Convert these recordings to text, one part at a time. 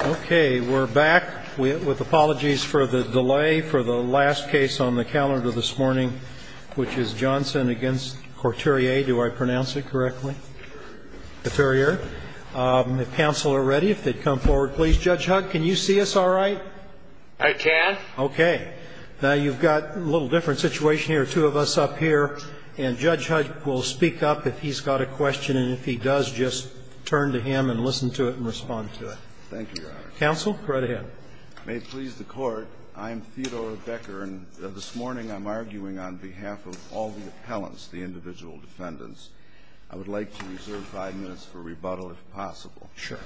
Okay, we're back with apologies for the delay for the last case on the calendar this morning, which is Johnson v. Couturier. Do I pronounce it correctly? Couturier. If counsel are ready, if they'd come forward, please. Judge Hugg, can you see us all right? I can. Okay. Now, you've got a little different situation here, two of us up here. And Judge Hugg will speak up if he's got a question, and if he does, just turn to him and listen to it and respond to it. Thank you, Your Honor. Counsel, go right ahead. May it please the Court, I am Theodore Becker, and this morning I'm arguing on behalf of all the appellants, the individual defendants. I would like to reserve five minutes for rebuttal, if possible. Sure.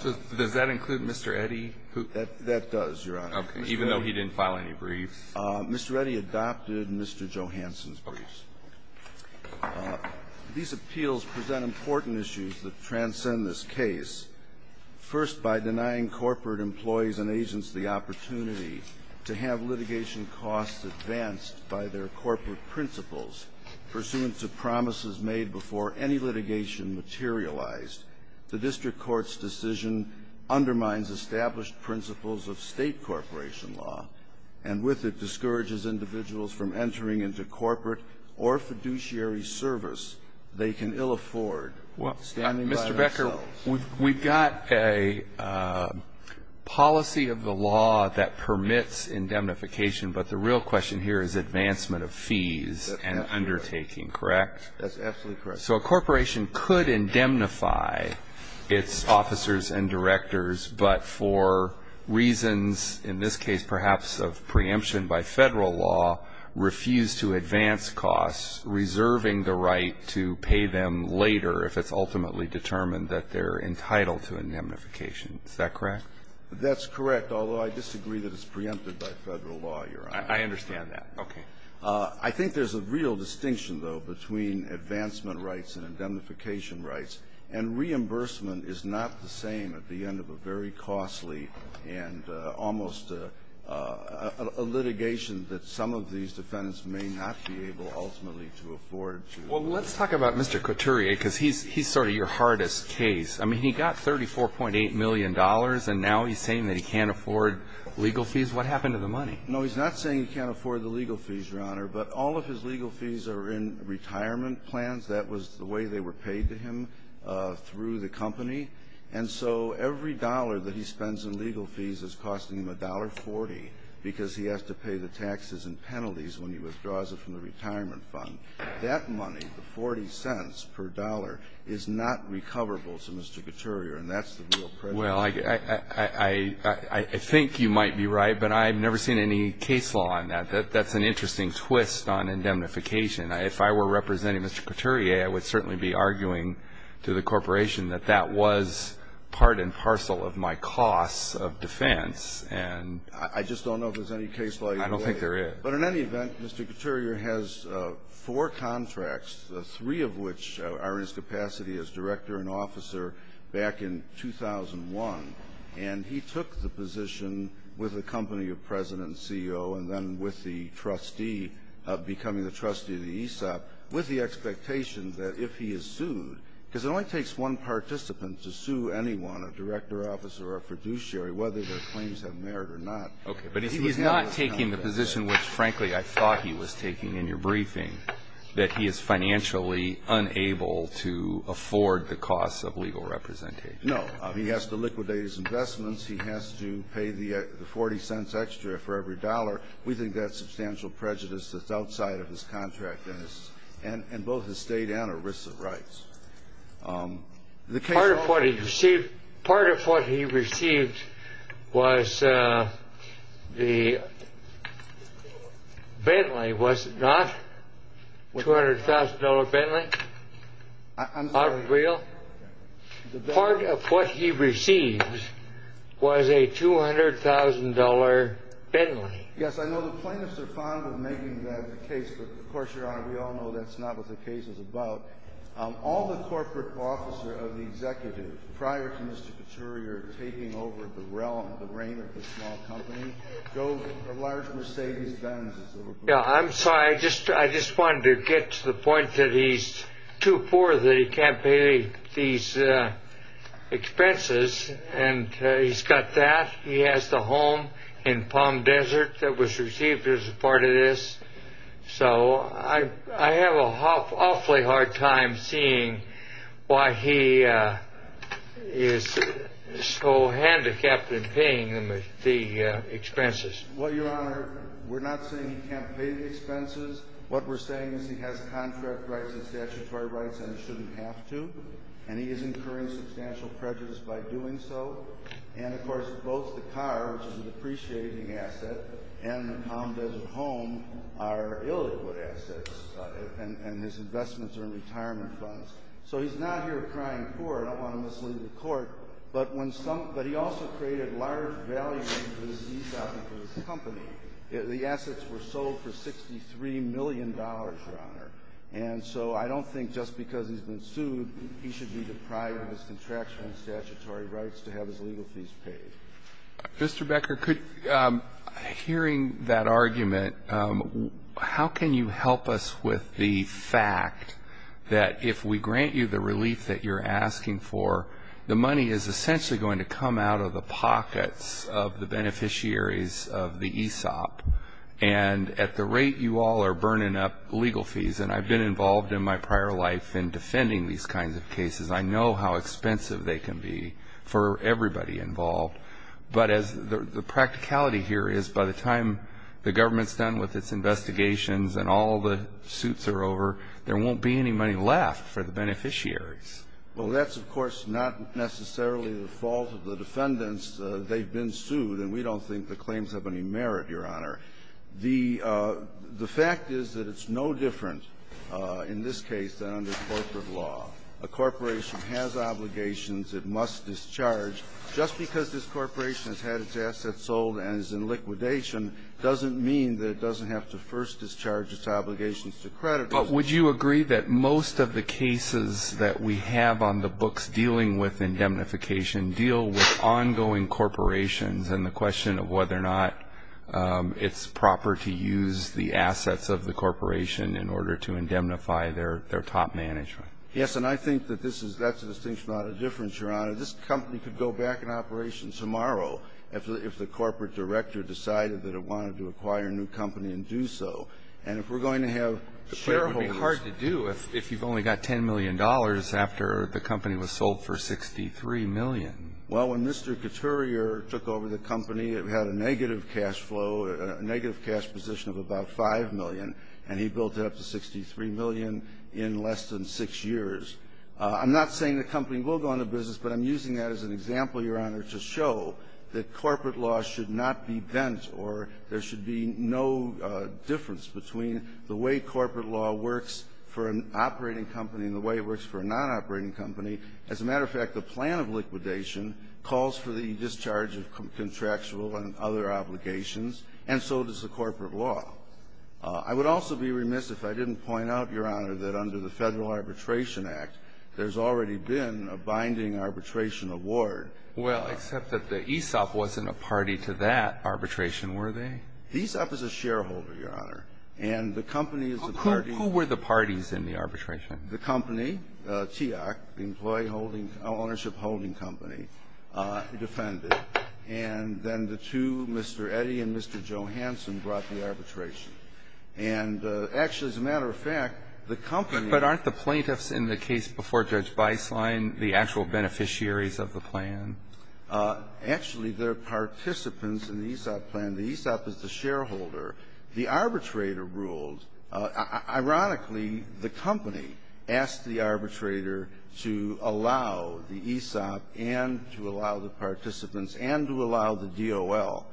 So does that include Mr. Eddy? That does, Your Honor. Okay. Even though he didn't file any briefs. Mr. Eddy adopted Mr. Johanson's briefs. These appeals present important issues that transcend this case. First, by denying corporate employees and agents the opportunity to have litigation costs advanced by their corporate principles pursuant to promises made before any litigation materialized, the district court's decision undermines established principles of state corporation law, and with it discourages individuals from entering into corporate or fiduciary service they can ill afford standing by themselves. Well, Mr. Becker, we've got a policy of the law that permits indemnification, but the real question here is advancement of fees and undertaking, correct? That's absolutely correct. So a corporation could indemnify its officers and directors, but for reasons, in this case, perhaps, of preemption by Federal law, refuse to advance costs, reserving the right to pay them later if it's ultimately determined that they're entitled to indemnification, is that correct? That's correct, although I disagree that it's preempted by Federal law, Your Honor. I understand that. Okay. I think there's a real distinction, though, between advancement rights and indemnification rights, and reimbursement is not the same at the end of a very costly and almost a litigation that some of these defendants may not be able ultimately to afford to. Well, let's talk about Mr. Couturier because he's sort of your hardest case. I mean, he got $34.8 million, and now he's saying that he can't afford legal fees. What happened to the money? No, he's not saying he can't afford the legal fees, Your Honor. But all of his legal fees are in retirement plans. That was the way they were paid to him through the company. And so every dollar that he spends in legal fees is costing him $1.40 because he has to pay the taxes and penalties when he withdraws it from the retirement fund. That money, the $0.40 per dollar, is not recoverable to Mr. Couturier, and that's the real problem. Well, I think you might be right, but I've never seen any case law on that. That's an interesting twist on indemnification. If I were representing Mr. Couturier, I would certainly be arguing to the corporation that that was part and parcel of my costs of defense. I just don't know if there's any case law. I don't think there is. But in any event, Mr. Couturier has four contracts, three of which are in his capacity as director and officer back in 2001, and he took the position with the company of president and CEO and then with the trustee of becoming the trustee of the ESOP with the expectation that if he is sued, because it only takes one participant to sue anyone, a director, officer, or a fiduciary, whether their claims have merit or not. Okay, but he's not taking the position which, frankly, I thought he was taking in your briefing, that he is financially unable to afford the costs of legal representation. No. He has to liquidate his investments. He has to pay the 40 cents extra for every dollar. We think that's substantial prejudice that's outside of his contract and both his state and our risks of rights. Part of what he received was the Bentley, was it not? $200,000 Bentley? I'm sorry. Part of what he received was a $200,000 Bentley. Yes, I know the plaintiffs are fond of making that case, but of course, Your Honor, we all know that's not what the case is about. All the corporate officers of the executive, prior to Mr. Caturia taking over the realm, the reign of the small company, go to large Mercedes Benz. Yeah, I'm sorry. I just wanted to get to the point that he's too poor that he can't pay these expenses, and he's got that. He has the home in Palm Desert that was received as a part of this. So I have an awfully hard time seeing why he is so handicapped in paying the expenses. Well, Your Honor, we're not saying he can't pay the expenses. What we're saying is he has contract rights and statutory rights, and he shouldn't have to, and he is incurring substantial prejudice by doing so. And, of course, both the car, which is an appreciating asset, and the Palm Desert home are illiquid assets, and his investments are in retirement funds. So he's not here crying poor. I don't want to mislead the court. But he also created large values for his company. The assets were sold for $63 million, Your Honor. And so I don't think just because he's been sued, he should be deprived of his contractual and statutory rights to have his legal fees paid. Mr. Becker, could you, hearing that argument, how can you help us with the fact that if we grant you the relief that you're asking for, the money is essentially going to come out of the pockets of the beneficiaries of the ESOP, and at the rate you all are burning up legal fees, and I've been involved in my prior life in defending these kinds of cases. I know how expensive they can be for everybody involved. But as the practicality here is, by the time the government's done with its investigations and all the suits are over, there won't be any money left for the beneficiaries. Well, that's, of course, not necessarily the fault of the defendants. They've been sued, and we don't think the claims have any merit, Your Honor. The fact is that it's no different in this case than under corporate law. A corporation has obligations it must discharge. Just because this corporation has had its assets sold and is in liquidation doesn't mean that it doesn't have to first discharge its obligations to creditors. But would you agree that most of the cases that we have on the books dealing with indemnification deal with ongoing corporations and the question of whether or not it's proper to use the assets of the corporation in order to indemnify their top management? Yes. And I think that this is that's a distinction, not a difference, Your Honor. This company could go back in operation tomorrow if the corporate director decided that it wanted to acquire a new company and do so. And if we're going to have shareholders ---- But it would be hard to do if you've only got $10 million after the company was sold for $63 million. Well, when Mr. Couturier took over the company, it had a negative cash flow, a negative cash position of about $5 million, and he built it up to $63 million in less than six years. I'm not saying the company will go into business, but I'm using that as an example, Your Honor, to show that corporate law should not be bent or there should be no difference between the way corporate law works for an operating company and the way it works for a nonoperating company. As a matter of fact, the plan of liquidation calls for the discharge of contractual and other obligations, and so does the corporate law. I would also be remiss if I didn't point out, Your Honor, that under the Federal Arbitration Act, there's already been a binding arbitration award. Well, except that the ESOP wasn't a party to that arbitration, were they? ESOP is a shareholder, Your Honor. And the company is a party ---- Who were the parties in the arbitration? The company, TEOC, Employee Ownership Holding Company, defended. And then the two, Mr. Eddy and Mr. Johanson, brought the arbitration. And actually, as a matter of fact, the company ---- But aren't the plaintiffs in the case before Judge Beislein the actual beneficiaries of the plan? Actually, they're participants in the ESOP plan. The ESOP is the shareholder. The arbitrator ruled. Ironically, the company asked the arbitrator to allow the ESOP and to allow the participants and to allow the DOL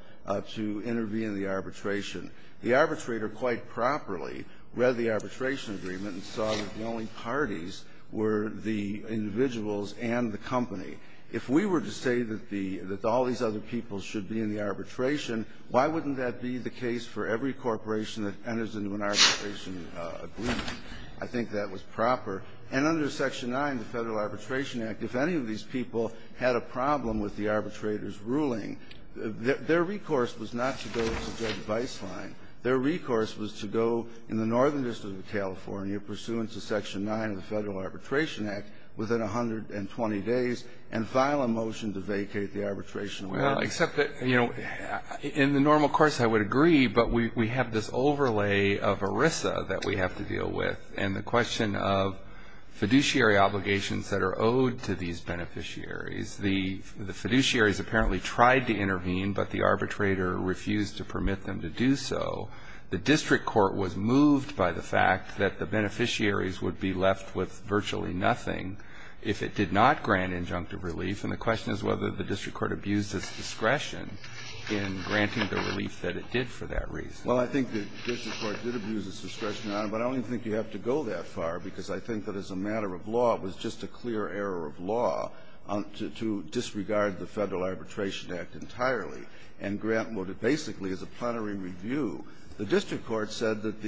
to intervene in the arbitration. The arbitrator quite properly read the arbitration agreement and saw that the only parties were the individuals and the company. If we were to say that the ---- that all these other people should be in the arbitration, why wouldn't that be the case for every corporation that enters into an arbitration agreement? I think that was proper. And under Section 9, the Federal Arbitration Act, if any of these people had a problem with the arbitrator's ruling, their recourse was not to go to Judge Beislein. Their recourse was to go in the northern district of California pursuant to Section 9 of the Federal Arbitration Act within 120 days and file a motion to vacate the arbitration agreement. In the normal course, I would agree, but we have this overlay of ERISA that we have to deal with and the question of fiduciary obligations that are owed to these beneficiaries. The fiduciaries apparently tried to intervene, but the arbitrator refused to permit them to do so. The district court was moved by the fact that the beneficiaries would be left with virtually nothing if it did not grant injunctive relief. And the question is whether the district court abused its discretion in granting the relief that it did for that reason. Well, I think the district court did abuse its discretion, Your Honor, but I don't think you have to go that far because I think that as a matter of law, it was just a clear error of law to disregard the Federal Arbitration Act entirely and grant what basically is a plenary review. The district court said that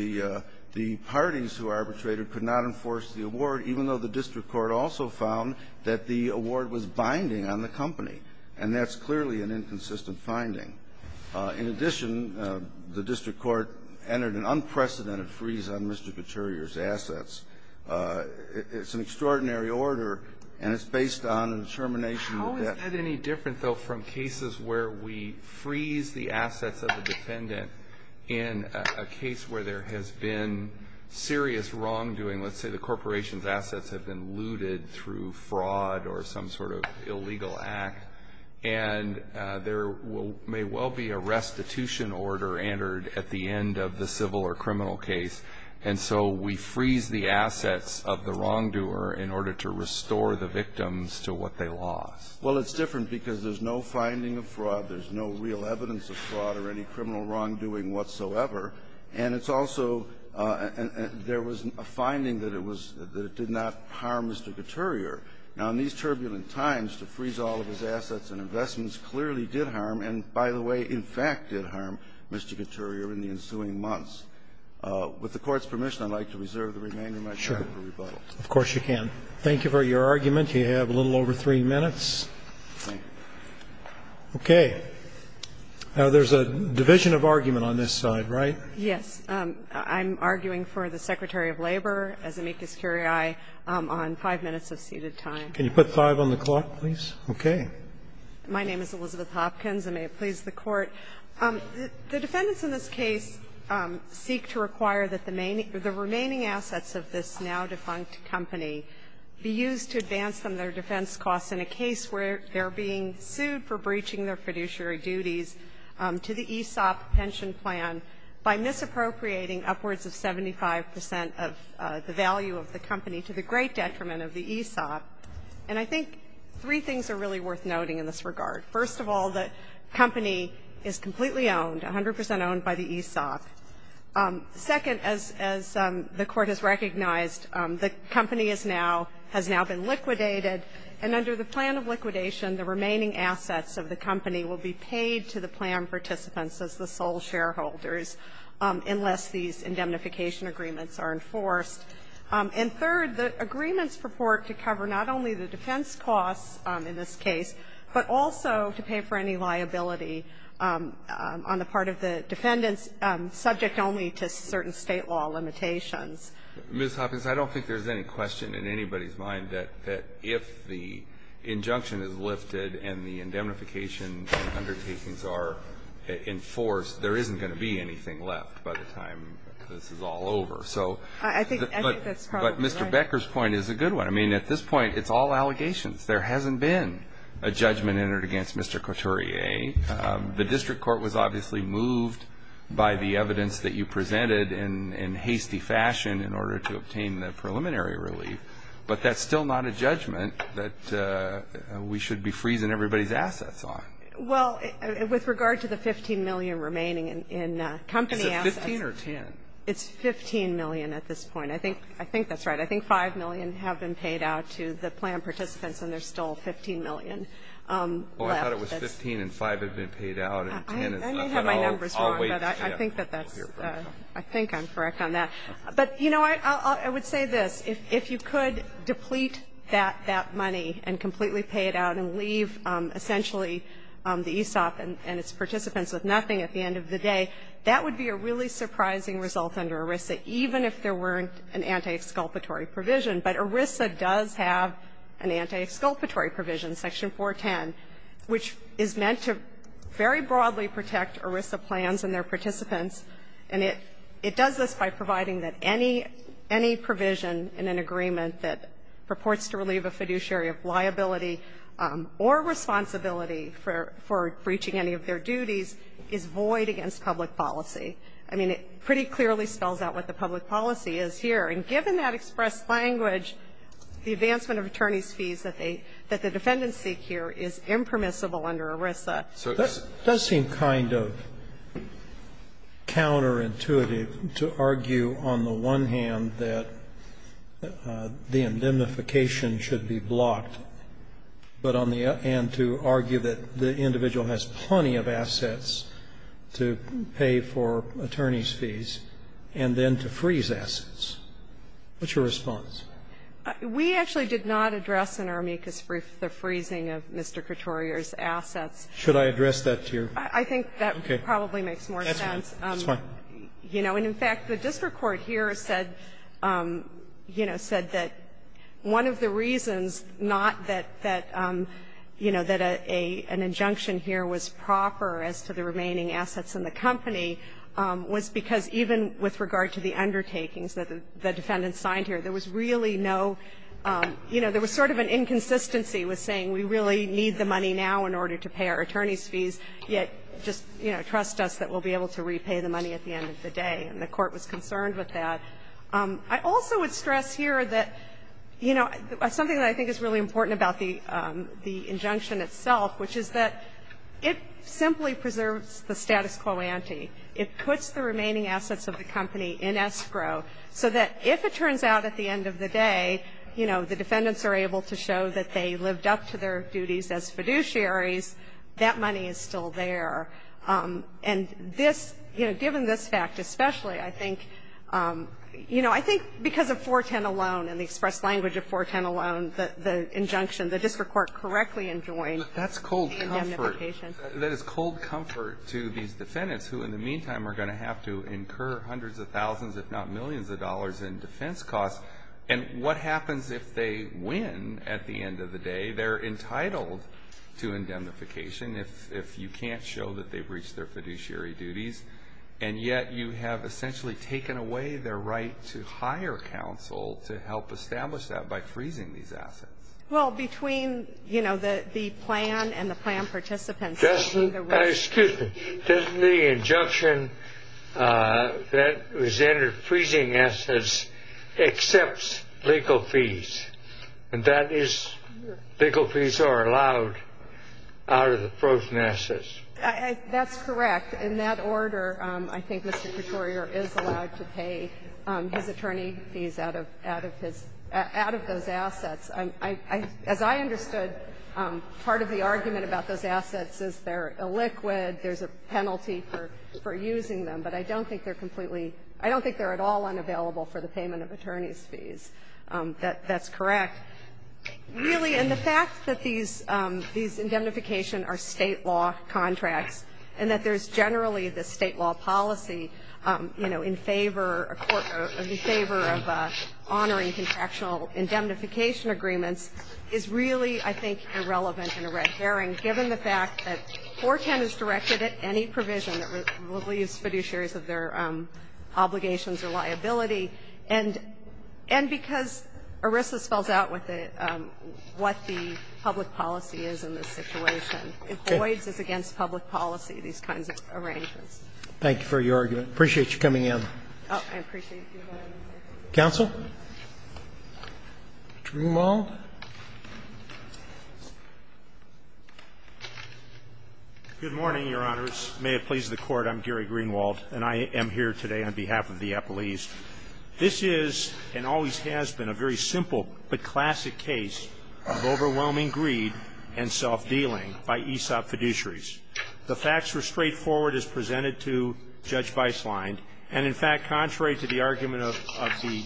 the parties who arbitrated could not enforce the award even though the district court also found that the award was binding on the company. And that's clearly an inconsistent finding. In addition, the district court entered an unprecedented freeze on Mr. Gutierrez's assets. It's an extraordinary order, and it's based on a determination that that ---- How is that any different, though, from cases where we freeze the assets of the defendant in a case where there has been serious wrongdoing? Let's say the corporation's assets have been looted through fraud or some sort of illegal act, and there may well be a restitution order entered at the end of the civil or criminal case, and so we freeze the assets of the wrongdoer in order to restore the victims to what they lost. Well, it's different because there's no finding of fraud. There's no real evidence of fraud or any criminal wrongdoing whatsoever. And it's also ---- there was a finding that it was ---- that it did not harm Mr. Gutierrez. Now, in these turbulent times, to freeze all of his assets and investments clearly did harm and, by the way, in fact did harm Mr. Gutierrez in the ensuing months. With the Court's permission, I'd like to reserve the remaining of my time for rebuttal. Of course you can. Thank you for your argument. You have a little over three minutes. Thank you. Okay. Now, there's a division of argument on this side, right? Yes. I'm arguing for the Secretary of Labor, as amicus curiae, on five minutes of seated time. Can you put five on the clock, please? Okay. My name is Elizabeth Hopkins, and may it please the Court. The defendants in this case seek to require that the remaining assets of this now-defunct company be used to advance some of their defense costs in a case where they're being sued for breaching their fiduciary duties to the ESOP pension plan by misappropriating upwards of 75 percent of the value of the company to the great detriment of the ESOP. And I think three things are really worth noting in this regard. First of all, the company is completely owned, 100 percent owned by the ESOP. Second, as the Court has recognized, the company is now, has now been liquidated, and under the plan of liquidation, the remaining assets of the company will be paid to the plan participants as the sole shareholders unless these indemnification agreements are enforced. And third, the agreements purport to cover not only the defense costs in this case, but also to pay for any liability on the part of the defendants subject only to certain State law limitations. Ms. Hopkins, I don't think there's any question in anybody's mind that if the injunction is lifted and the indemnification undertakings are enforced, there isn't going to be anything left by the time this is all over. I think that's probably right. But Mr. Becker's point is a good one. I mean, at this point, it's all allegations. There hasn't been a judgment entered against Mr. Couturier. The district court was obviously moved by the evidence that you presented in hasty fashion in order to obtain the preliminary relief. But that's still not a judgment that we should be freezing everybody's assets on. Well, with regard to the $15 million remaining in company assets. Is it $15 or $10? It's $15 million at this point. I think that's right. I think $5 million have been paid out to the plan participants, and there's still $15 million left. Well, I thought it was $15 and $5 had been paid out, and $10 is not at all. I may have my numbers wrong, but I think that that's, I think I'm correct on that. But, you know, I would say this. If you could deplete that money and completely pay it out and leave essentially the ESOP and its participants with nothing at the end of the day, that would be a really surprising result under ERISA, even if there weren't an anti-exculpatory provision, but ERISA does have an anti-exculpatory provision, section 410, which is meant to very broadly protect ERISA plans and their participants, and it does this by providing that any provision in an agreement that purports to relieve a fiduciary of liability or responsibility for breaching any of their duties is void against public policy. I mean, it pretty clearly spells out what the public policy is here. And given that express language, the advancement of attorneys' fees that they, that the defendants seek here is impermissible under ERISA. So this does seem kind of counterintuitive to argue on the one hand that the indemnification should be blocked, but on the other hand, to argue that the individual has plenty of assets to pay for attorneys' fees and then to freeze assets. What's your response? We actually did not address in our amicus brief the freezing of Mr. Coturier's assets. Should I address that to you? I think that probably makes more sense. That's fine. You know, and in fact, the district court here said, you know, said that one of the reasons not that, you know, that an injunction here was proper as to the remaining assets in the company was because even with regard to the undertakings that the defendant signed here, there was really no, you know, there was sort of an inconsistency with saying we really need the money now in order to pay our attorneys' fees, yet just, you know, trust us that we'll be able to repay the money at the end of the day. And the Court was concerned with that. I also would stress here that, you know, something that I think is really important about the injunction itself, which is that it simply preserves the status quo ante. It puts the remaining assets of the company in escrow so that if it turns out at the end of the day, you know, the defendants are able to show that they lived up to their duties as fiduciaries, that money is still there. And this, you know, given this fact especially, I think, you know, I think because of 410 alone and the express language of 410 alone, the injunction, the district court correctly enjoined the indemnification. But that's cold comfort. That is cold comfort to these defendants who in the meantime are going to have to incur hundreds of thousands, if not millions of dollars in defense costs. And what happens if they win at the end of the day? They're entitled to indemnification if you can't show that they've reached their fiduciary duties. And yet you have essentially taken away their right to hire counsel to help establish that by freezing these assets. Well, between, you know, the plan and the plan participants. Excuse me. Doesn't the injunction that was entered, freezing assets, accepts legal fees? And that is legal fees are allowed out of the frozen assets. That's correct. In that order, I think Mr. Couturier is allowed to pay his attorney fees out of his – out of those assets. As I understood, part of the argument about those assets is they're illiquid, there's a penalty for using them. But I don't think they're completely – I don't think they're at all unavailable for the payment of attorney's fees. That's correct. Really, and the fact that these indemnification are State law contracts and that there's generally the State law policy, you know, in favor of honoring contractual and indemnification agreements is really, I think, irrelevant and a red herring given the fact that 410 is directed at any provision that relieves fiduciaries of their obligations or liability, and because ERISA spells out what the public policy is in this situation. If Boyd's is against public policy, these kinds of arrangements. Thank you for your argument. I appreciate you coming in. I appreciate you coming in. Counsel? Greenwald? Good morning, Your Honors. May it please the Court, I'm Gary Greenwald, and I am here today on behalf of the appellees. This is and always has been a very simple but classic case of overwhelming greed and self-dealing by ESOP fiduciaries. The facts were straightforward as presented to Judge Beislein, and in fact, contrary to the argument of the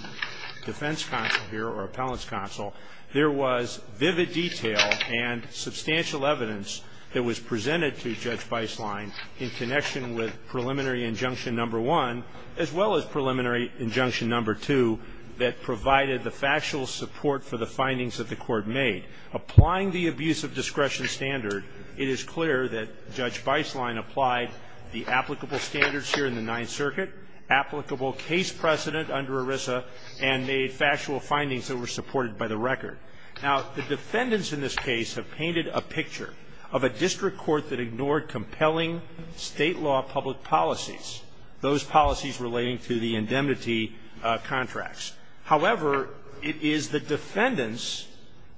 defense counsel here or appellate's counsel, there was vivid detail and substantial evidence that was presented to Judge Beislein in connection with preliminary injunction number one as well as preliminary injunction number two that provided the factual support for the findings that the Court made. Applying the abuse of discretion standard, it is clear that Judge Beislein applied the applicable standards here in the Ninth Circuit, applicable case precedent under ERISA, and made factual findings that were supported by the record. Now, the defendants in this case have painted a picture of a district court that ignored compelling State law public policies, those policies relating to the indemnity contracts. However, it is the defendants,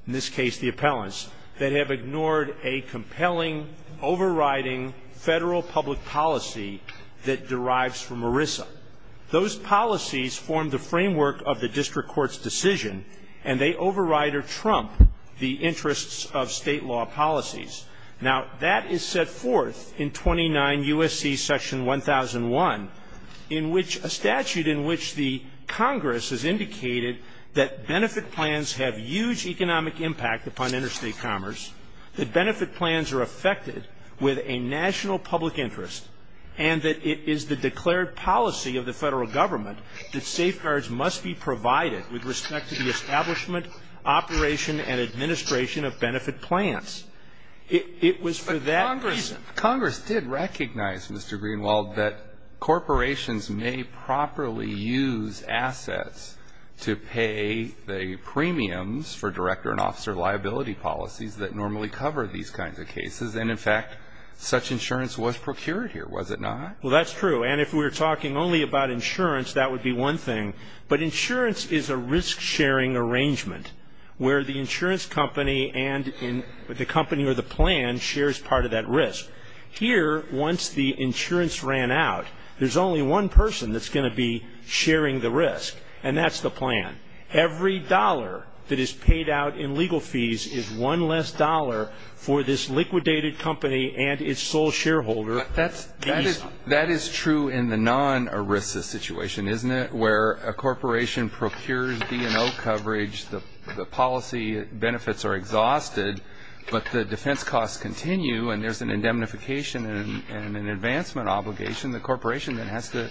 in this case the appellants, that have ignored a compelling, overriding Federal public policy that derives from ERISA. Those policies form the framework of the district court's decision, and they override or trump the interests of State law policies. Now, that is set forth in 29 U.S.C. section 1001, in which a statute in which the Congress has indicated that benefit plans have huge economic impact upon interstate commerce, that benefit plans are affected with a national public interest, and that it is the declared policy of the Federal Government that safeguards must be provided with respect to the establishment, operation, and administration of benefit plans. It was for that reason. But Congress did recognize, Mr. Greenwald, that corporations may properly use assets to pay the premiums for director and officer liability policies that normally cover these kinds of cases. And, in fact, such insurance was procured here, was it not? Well, that's true. And if we were talking only about insurance, that would be one thing. But insurance is a risk-sharing arrangement where the insurance company and the company or the plan shares part of that risk. Here, once the insurance ran out, there's only one person that's going to be sharing the risk, and that's the plan. Every dollar that is paid out in legal fees is one less dollar for this liquidated company and its sole shareholder. But that is true in the non-ERISA situation, isn't it, where a corporation procures D&O coverage, the policy benefits are exhausted, but the defense costs continue and there's an indemnification and an advancement obligation. The corporation then has to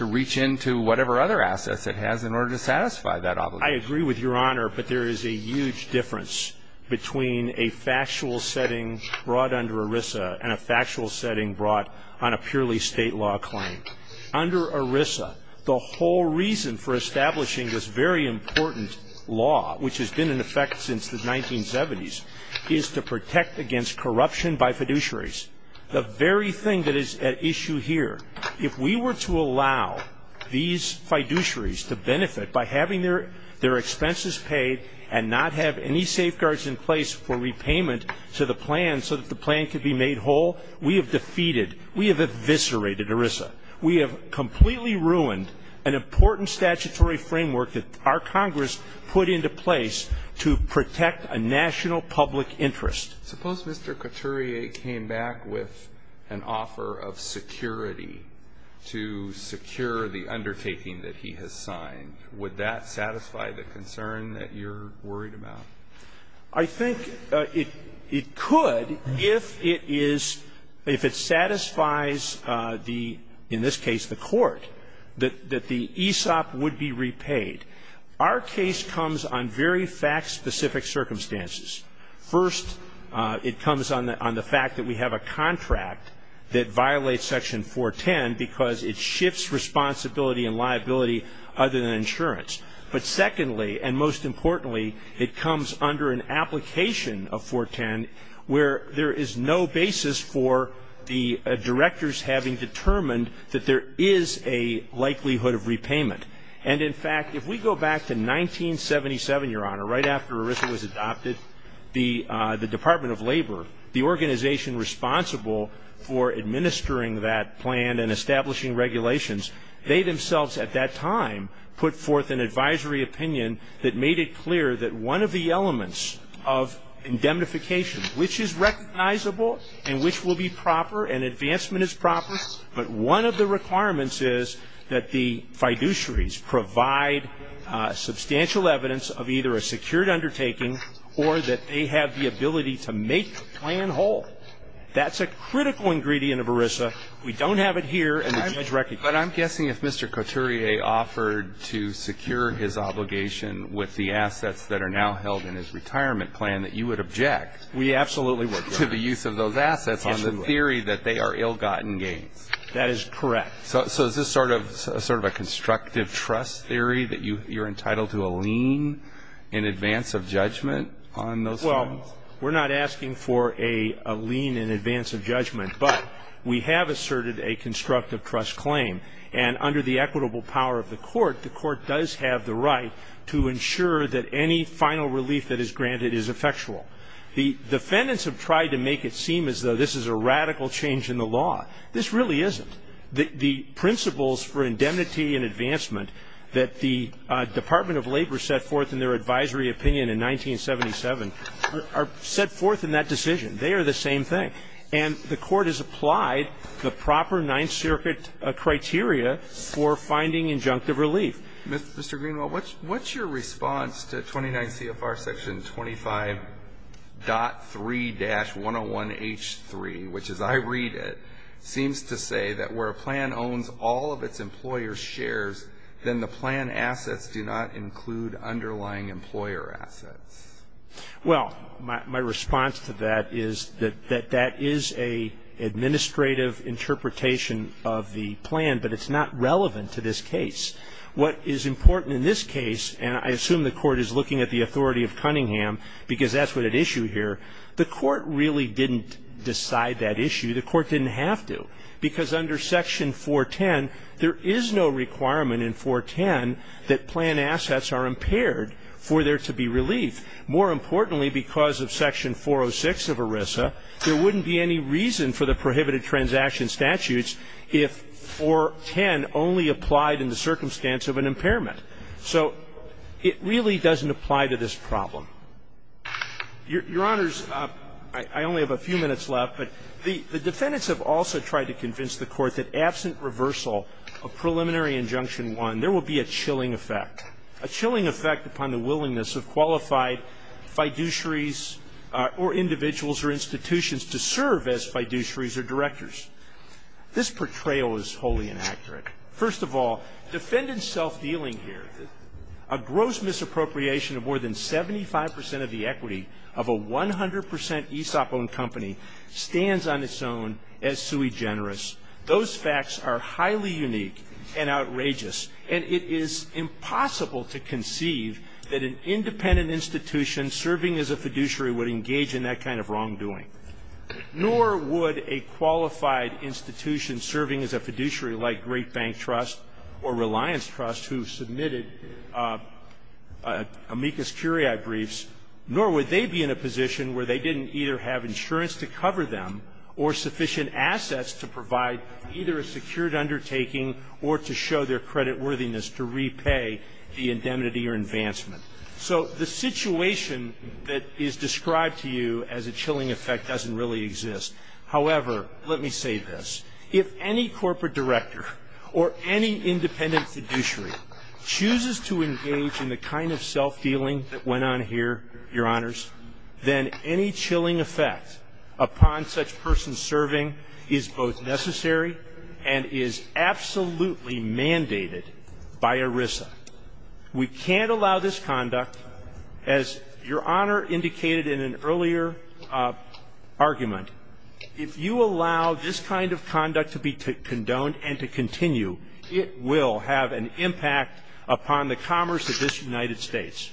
reach into whatever other assets it has in order to satisfy that obligation. I agree with Your Honor, but there is a huge difference between a factual setting brought under ERISA and a factual setting brought on a purely state law claim. Under ERISA, the whole reason for establishing this very important law, which has been in effect since the 1970s, is to protect against corruption by fiduciaries. The very thing that is at issue here, if we were to allow these fiduciaries to benefit by having their expenses paid and not have any safeguards in place for repayment to the plan so that the plan could be made whole, we have defeated, we have eviscerated ERISA. We have completely ruined an important statutory framework that our Congress put into place to protect a national public interest. Suppose Mr. Couturier came back with an offer of security to secure the undertaking that he has signed. Would that satisfy the concern that you're worried about? I think it could if it is, if it satisfies the, in this case, the court, that the ESOP would be repaid. Our case comes on very fact-specific circumstances. First, it comes on the fact that we have a contract that violates Section 410 because it shifts responsibility and liability other than insurance. But secondly, and most importantly, it comes under an application of 410 where there is no basis for the directors having determined that there is a likelihood of repayment. And in fact, if we go back to 1977, Your Honor, right after ERISA was adopted, the Department of Labor, the organization responsible for administering that plan and establishing regulations, they themselves at that time put forth an advisory opinion that made it clear that one of the elements of indemnification, which is recognizable and which will be proper and advancement is proper, but one of the requirements is that the fiduciaries provide substantial evidence of either a secured undertaking or that they have the ability to make the plan whole. That's a critical ingredient of ERISA. We don't have it here, and the judge recognizes it. But I'm guessing if Mr. Coturier offered to secure his obligation with the assets that are now held in his retirement plan that you would object to the use of those assets on the theory that they are ill-gotten gains. That is correct. So is this sort of a constructive trust theory that you're entitled to a lien in advance of judgment on those claims? Well, we're not asking for a lien in advance of judgment, but we have asserted a constructive trust claim. And under the equitable power of the court, the court does have the right to ensure that any final relief that is granted is effectual. The defendants have tried to make it seem as though this is a radical change in the law. This really isn't. The principles for indemnity and advancement that the Department of Labor set forth in their advisory opinion in 1977 are set forth in that decision. They are the same thing. And the court has applied the proper Ninth Circuit criteria for finding injunctive relief. Mr. Greenwald, what's your response to 29 CFR Section 25.3-101H3, which, as I read it, seems to say that where a plan owns all of its employer's shares, then the plan assets do not include underlying employer assets? Well, my response to that is that that is an administrative interpretation of the plan, but it's not relevant to this case. What is important in this case, and I assume the court is looking at the authority of Cunningham because that's what it issued here, the court really didn't decide that issue. The court didn't have to, because under Section 410, there is no requirement in 410 that plan assets are impaired for there to be relief. More importantly, because of Section 406 of ERISA, there wouldn't be any reason for the prohibited transaction statutes if 410 only applied in the circumstance of an impairment. So it really doesn't apply to this problem. Your Honors, I only have a few minutes left, but the defendants have also tried to convince the Court that absent reversal of preliminary injunction one, there will be a chilling effect, a chilling effect upon the willingness of qualified fiduciaries or individuals or institutions to serve as fiduciaries or directors. This portrayal is wholly inaccurate. First of all, defendant self-dealing here, a gross misappropriation of more than 75 percent of the equity of a 100 percent ESOP-owned company stands on its own as sui generis. Those facts are highly unique and outrageous, and it is impossible to conceive that an independent institution serving as a fiduciary would engage in that kind of wrongdoing. Nor would a qualified institution serving as a fiduciary like Great Bank Trust or Reliance Trust who submitted amicus curiae briefs, nor would they be in a position where they didn't either have insurance to cover them or sufficient assets to provide either a secured undertaking or to show their creditworthiness to repay the indemnity or advancement. So the situation that is described to you as a chilling effect doesn't really exist. However, let me say this. If any corporate director or any independent fiduciary chooses to engage in the kind of self-dealing that went on here, Your Honors, then any chilling effect upon such person serving is both necessary and is absolutely mandated by ERISA. We can't allow this conduct, as Your Honor indicated in an earlier argument, if you allow this kind of conduct to be condoned and to continue, it will have an impact upon the commerce of this United States.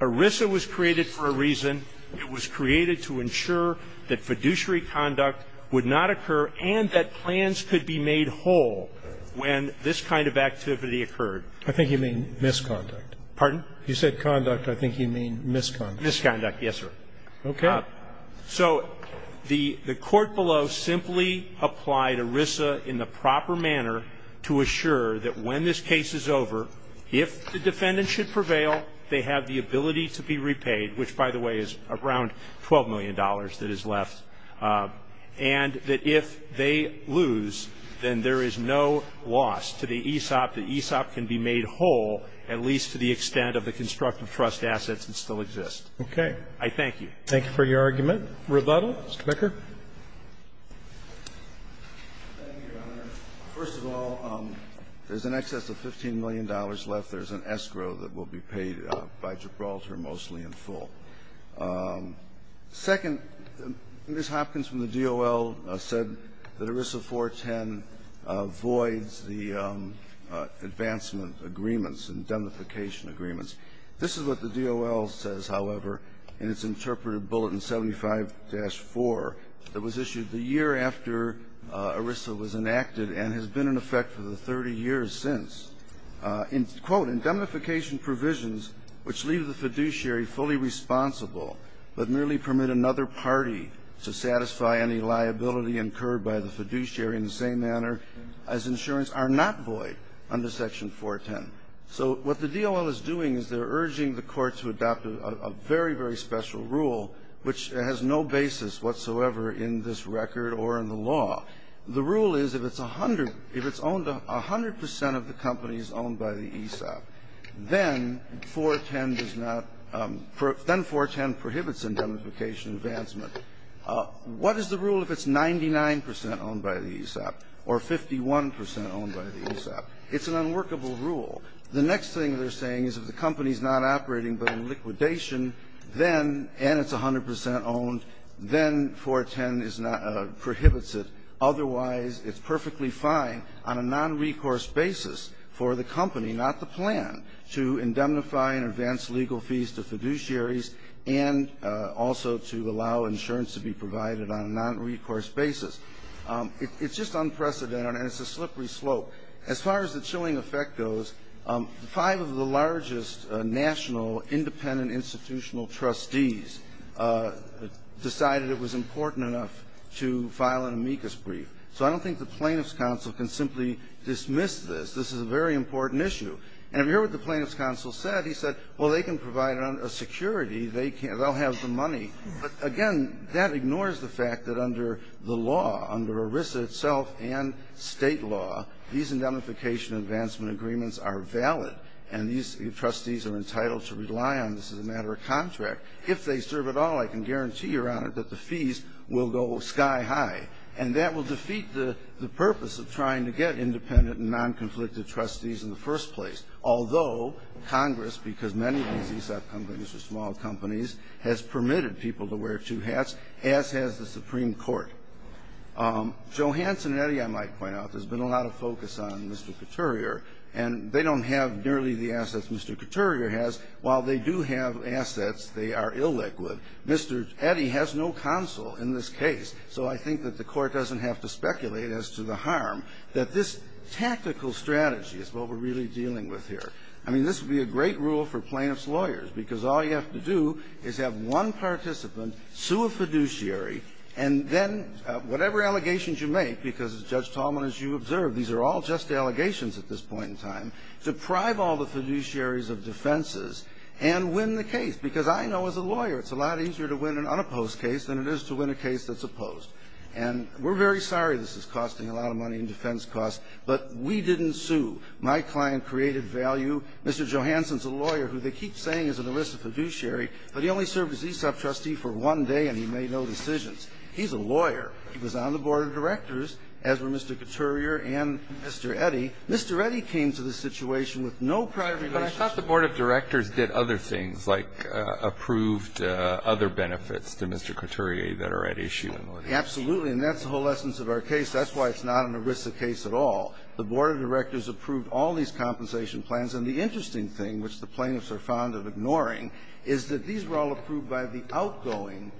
ERISA was created for a reason. It was created to ensure that fiduciary conduct would not occur and that plans could be made whole when this kind of activity occurred. I think you mean misconduct. Pardon? You said conduct. I think you mean misconduct. Misconduct, yes, sir. Okay. So the court below simply applied ERISA in the proper manner to assure that when this case is over, if the defendant should prevail, they have the ability to be repaid, which, by the way, is around $12 million that is left, and that if they lose, then there is no loss to the ESOP. The ESOP can be made whole, at least to the extent of the constructive trust assets that still exist. Okay. I thank you. Thank you for your argument. Rebuttal? Mr. Becker? Thank you, Your Honor. First of all, there's an excess of $15 million left. There's an escrow that will be paid by Gibraltar mostly in full. Second, Ms. Hopkins from the DOL said that ERISA 410 voids the advancement agreements and demification agreements. This is what the DOL says, however, in its interpretive bulletin 75-4 that was issued the year after ERISA was enacted and has been in effect for the 30 years since. Quote, Indemnification provisions which leave the fiduciary fully responsible but merely permit another party to satisfy any liability incurred by the fiduciary in the same manner as insurance are not void under section 410. So what the DOL is doing is they're urging the Court to adopt a very, very special rule which has no basis whatsoever in this record or in the law. The rule is if it's 100 percent of the company is owned by the ESOP, then 410 does not – then 410 prohibits indemnification advancement. What is the rule if it's 99 percent owned by the ESOP or 51 percent owned by the ESOP? It's an unworkable rule. The next thing they're saying is if the company is not operating but in liquidation, then – and it's 100 percent owned, then 410 is not – prohibits it. Otherwise, it's perfectly fine on a nonrecourse basis for the company, not the plan, to indemnify and advance legal fees to fiduciaries and also to allow insurance to be provided on a nonrecourse basis. It's just unprecedented, and it's a slippery slope. As far as the chilling effect goes, five of the largest national independent institutional trustees decided it was important enough to file an amicus brief. So I don't think the Plaintiff's counsel can simply dismiss this. This is a very important issue. And if you hear what the Plaintiff's counsel said, he said, well, they can provide a security. They can't – they'll have the money. But again, that ignores the fact that under the law, under ERISA itself and State law, these indemnification advancement agreements are valid, and these trustees are entitled to rely on this as a matter of contract. If they serve at all, I can guarantee, Your Honor, that the fees will go sky high. And that will defeat the purpose of trying to get independent and nonconflictive trustees in the first place, although Congress, because many of these ESF companies are small companies, has permitted people to wear two hats, as has the Supreme Court. Johansson and Eddy, I might point out, there's been a lot of focus on Mr. Couturier, and they don't have nearly the assets Mr. Couturier has. While they do have assets, they are illiquid. Mr. Eddy has no counsel in this case, so I think that the Court doesn't have to speculate as to the harm that this tactical strategy is what we're really dealing with here. I mean, this would be a great rule for Plaintiff's lawyers, because all you have to do is have one participant sue a fiduciary, and then whatever allegations you make, because, as Judge Tallman, as you observed, these are all just allegations at this point in time, deprive all the fiduciaries of defenses and win the case. Because I know as a lawyer it's a lot easier to win an unopposed case than it is to win a case that's opposed. And we're very sorry this is costing a lot of money in defense costs, but we didn't sue. My client created value. Mr. Johanson is a lawyer who they keep saying is an ERISA fiduciary, but he only served as ESOP trustee for one day and he made no decisions. He's a lawyer. He was on the Board of Directors, as were Mr. Couturier and Mr. Eddy. Mr. Eddy came to this situation with no prior relationship. But I thought the Board of Directors did other things, like approved other benefits to Mr. Couturier that are at issue. Absolutely. And that's the whole essence of our case. That's why it's not an ERISA case at all. The Board of Directors approved all these compensation plans. And the interesting thing, which the plaintiffs are fond of ignoring, is that these were all approved by the outgoing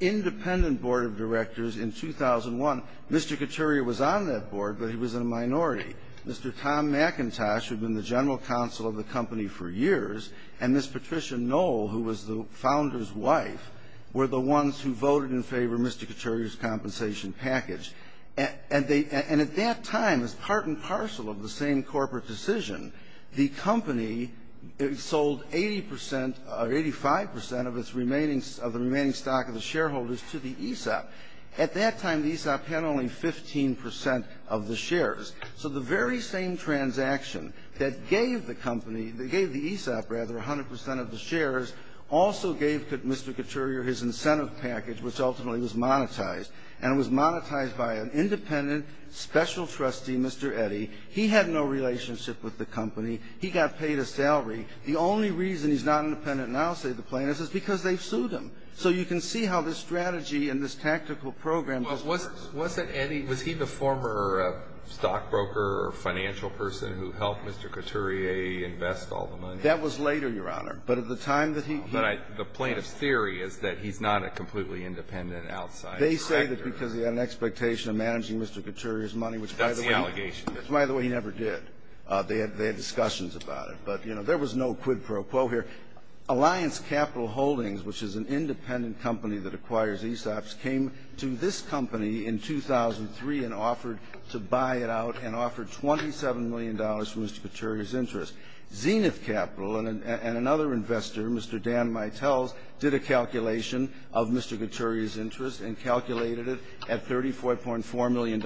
independent Board of Directors in 2001. Mr. Couturier was on that board, but he was in a minority. Mr. Tom McIntosh, who had been the general counsel of the company for years, and Ms. Patricia Knoll, who was the founder's wife, were the ones who voted in favor of Mr. Couturier's compensation package. And they – and at that time, as part and parcel of the same corporate decision, the company sold 80 percent or 85 percent of its remaining – of the remaining stock of the shareholders to the ESOP. At that time, the ESOP had only 15 percent of the shares. So the very same transaction that gave the company – that gave the ESOP, rather, 100 percent of the shares, also gave Mr. Couturier his incentive package, which ultimately was monetized. And it was monetized by an independent special trustee, Mr. Eddy. He had no relationship with the company. He got paid a salary. The only reason he's not independent now, say the plaintiffs, is because they've sued him. So you can see how this strategy and this tactical program goes. Well, wasn't – wasn't Eddy – was he the former stockbroker or financial person who helped Mr. Couturier invest all the money? That was later, Your Honor. But at the time that he – But I – the plaintiff's theory is that he's not a completely independent outsider. They say that because he had an expectation of managing Mr. Couturier's money, which, by the way – That's the allegation. Which, by the way, he never did. They had – they had discussions about it. But, you know, there was no quid pro quo here. Alliance Capital Holdings, which is an independent company that acquires ESOPs, came to this company in 2003 and offered to buy it out and offered $27 million for Mr. Couturier's interest. Zenith Capital and another investor, Mr. Dan Mitells, did a calculation of Mr. Couturier's interest and calculated it at $34.4 million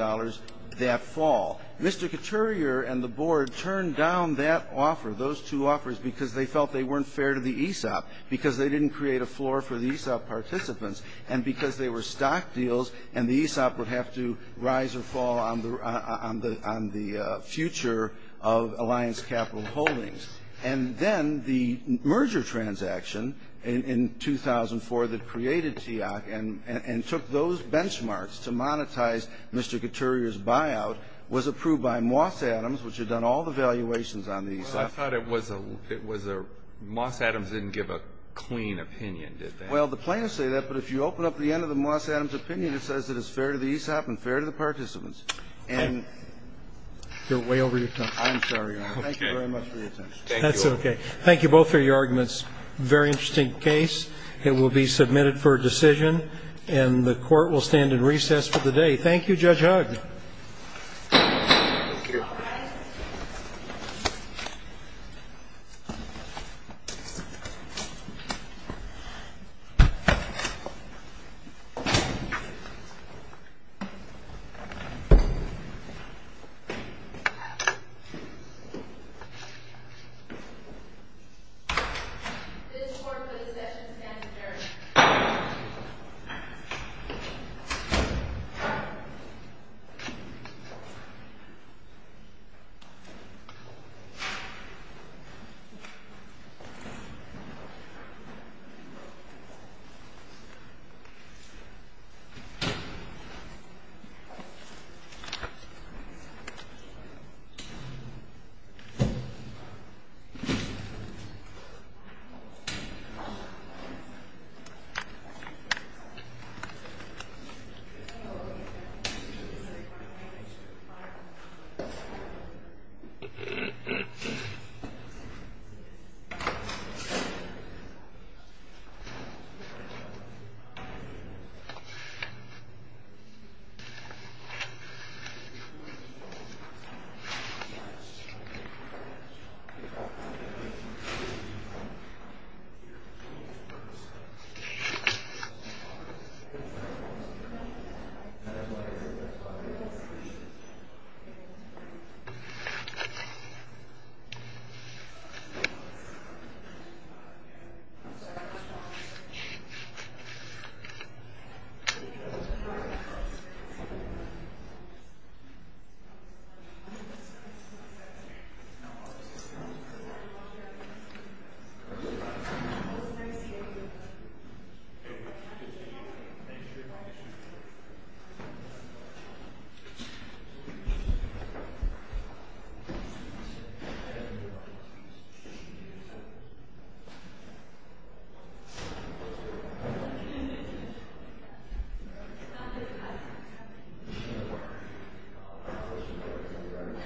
that fall. Mr. Couturier and the board turned down that offer, those two offers, because they felt they weren't fair to the ESOP, because they didn't create a floor for the ESOP participants, and because they were stock deals and the ESOP would have to rise or fall on the – on the future of Alliance Capital Holdings. And then the merger transaction in 2004 that created TIAC and took those benchmarks to monetize Mr. Couturier's buyout was approved by Moss Adams, which had done all the valuations on the ESOP. Well, I thought it was a – it was a – Moss Adams didn't give a clean opinion, did they? Well, the plaintiffs say that, but if you open up the end of the Moss Adams opinion, it says that it's fair to the ESOP and fair to the participants. And – You're way over your time. I'm sorry, Your Honor. Okay. Thank you very much for your attention. Thank you all. That's okay. Thank you both for your arguments. Very interesting case. It will be submitted for a decision, and the court will stand in recess for the day. Thank you, Judge Hugg. Thank you. This court will recess and stand adjourned. Thank you, Your Honor. Thank you, Your Honor. Thank you, Your Honor. Thank you, Your Honor.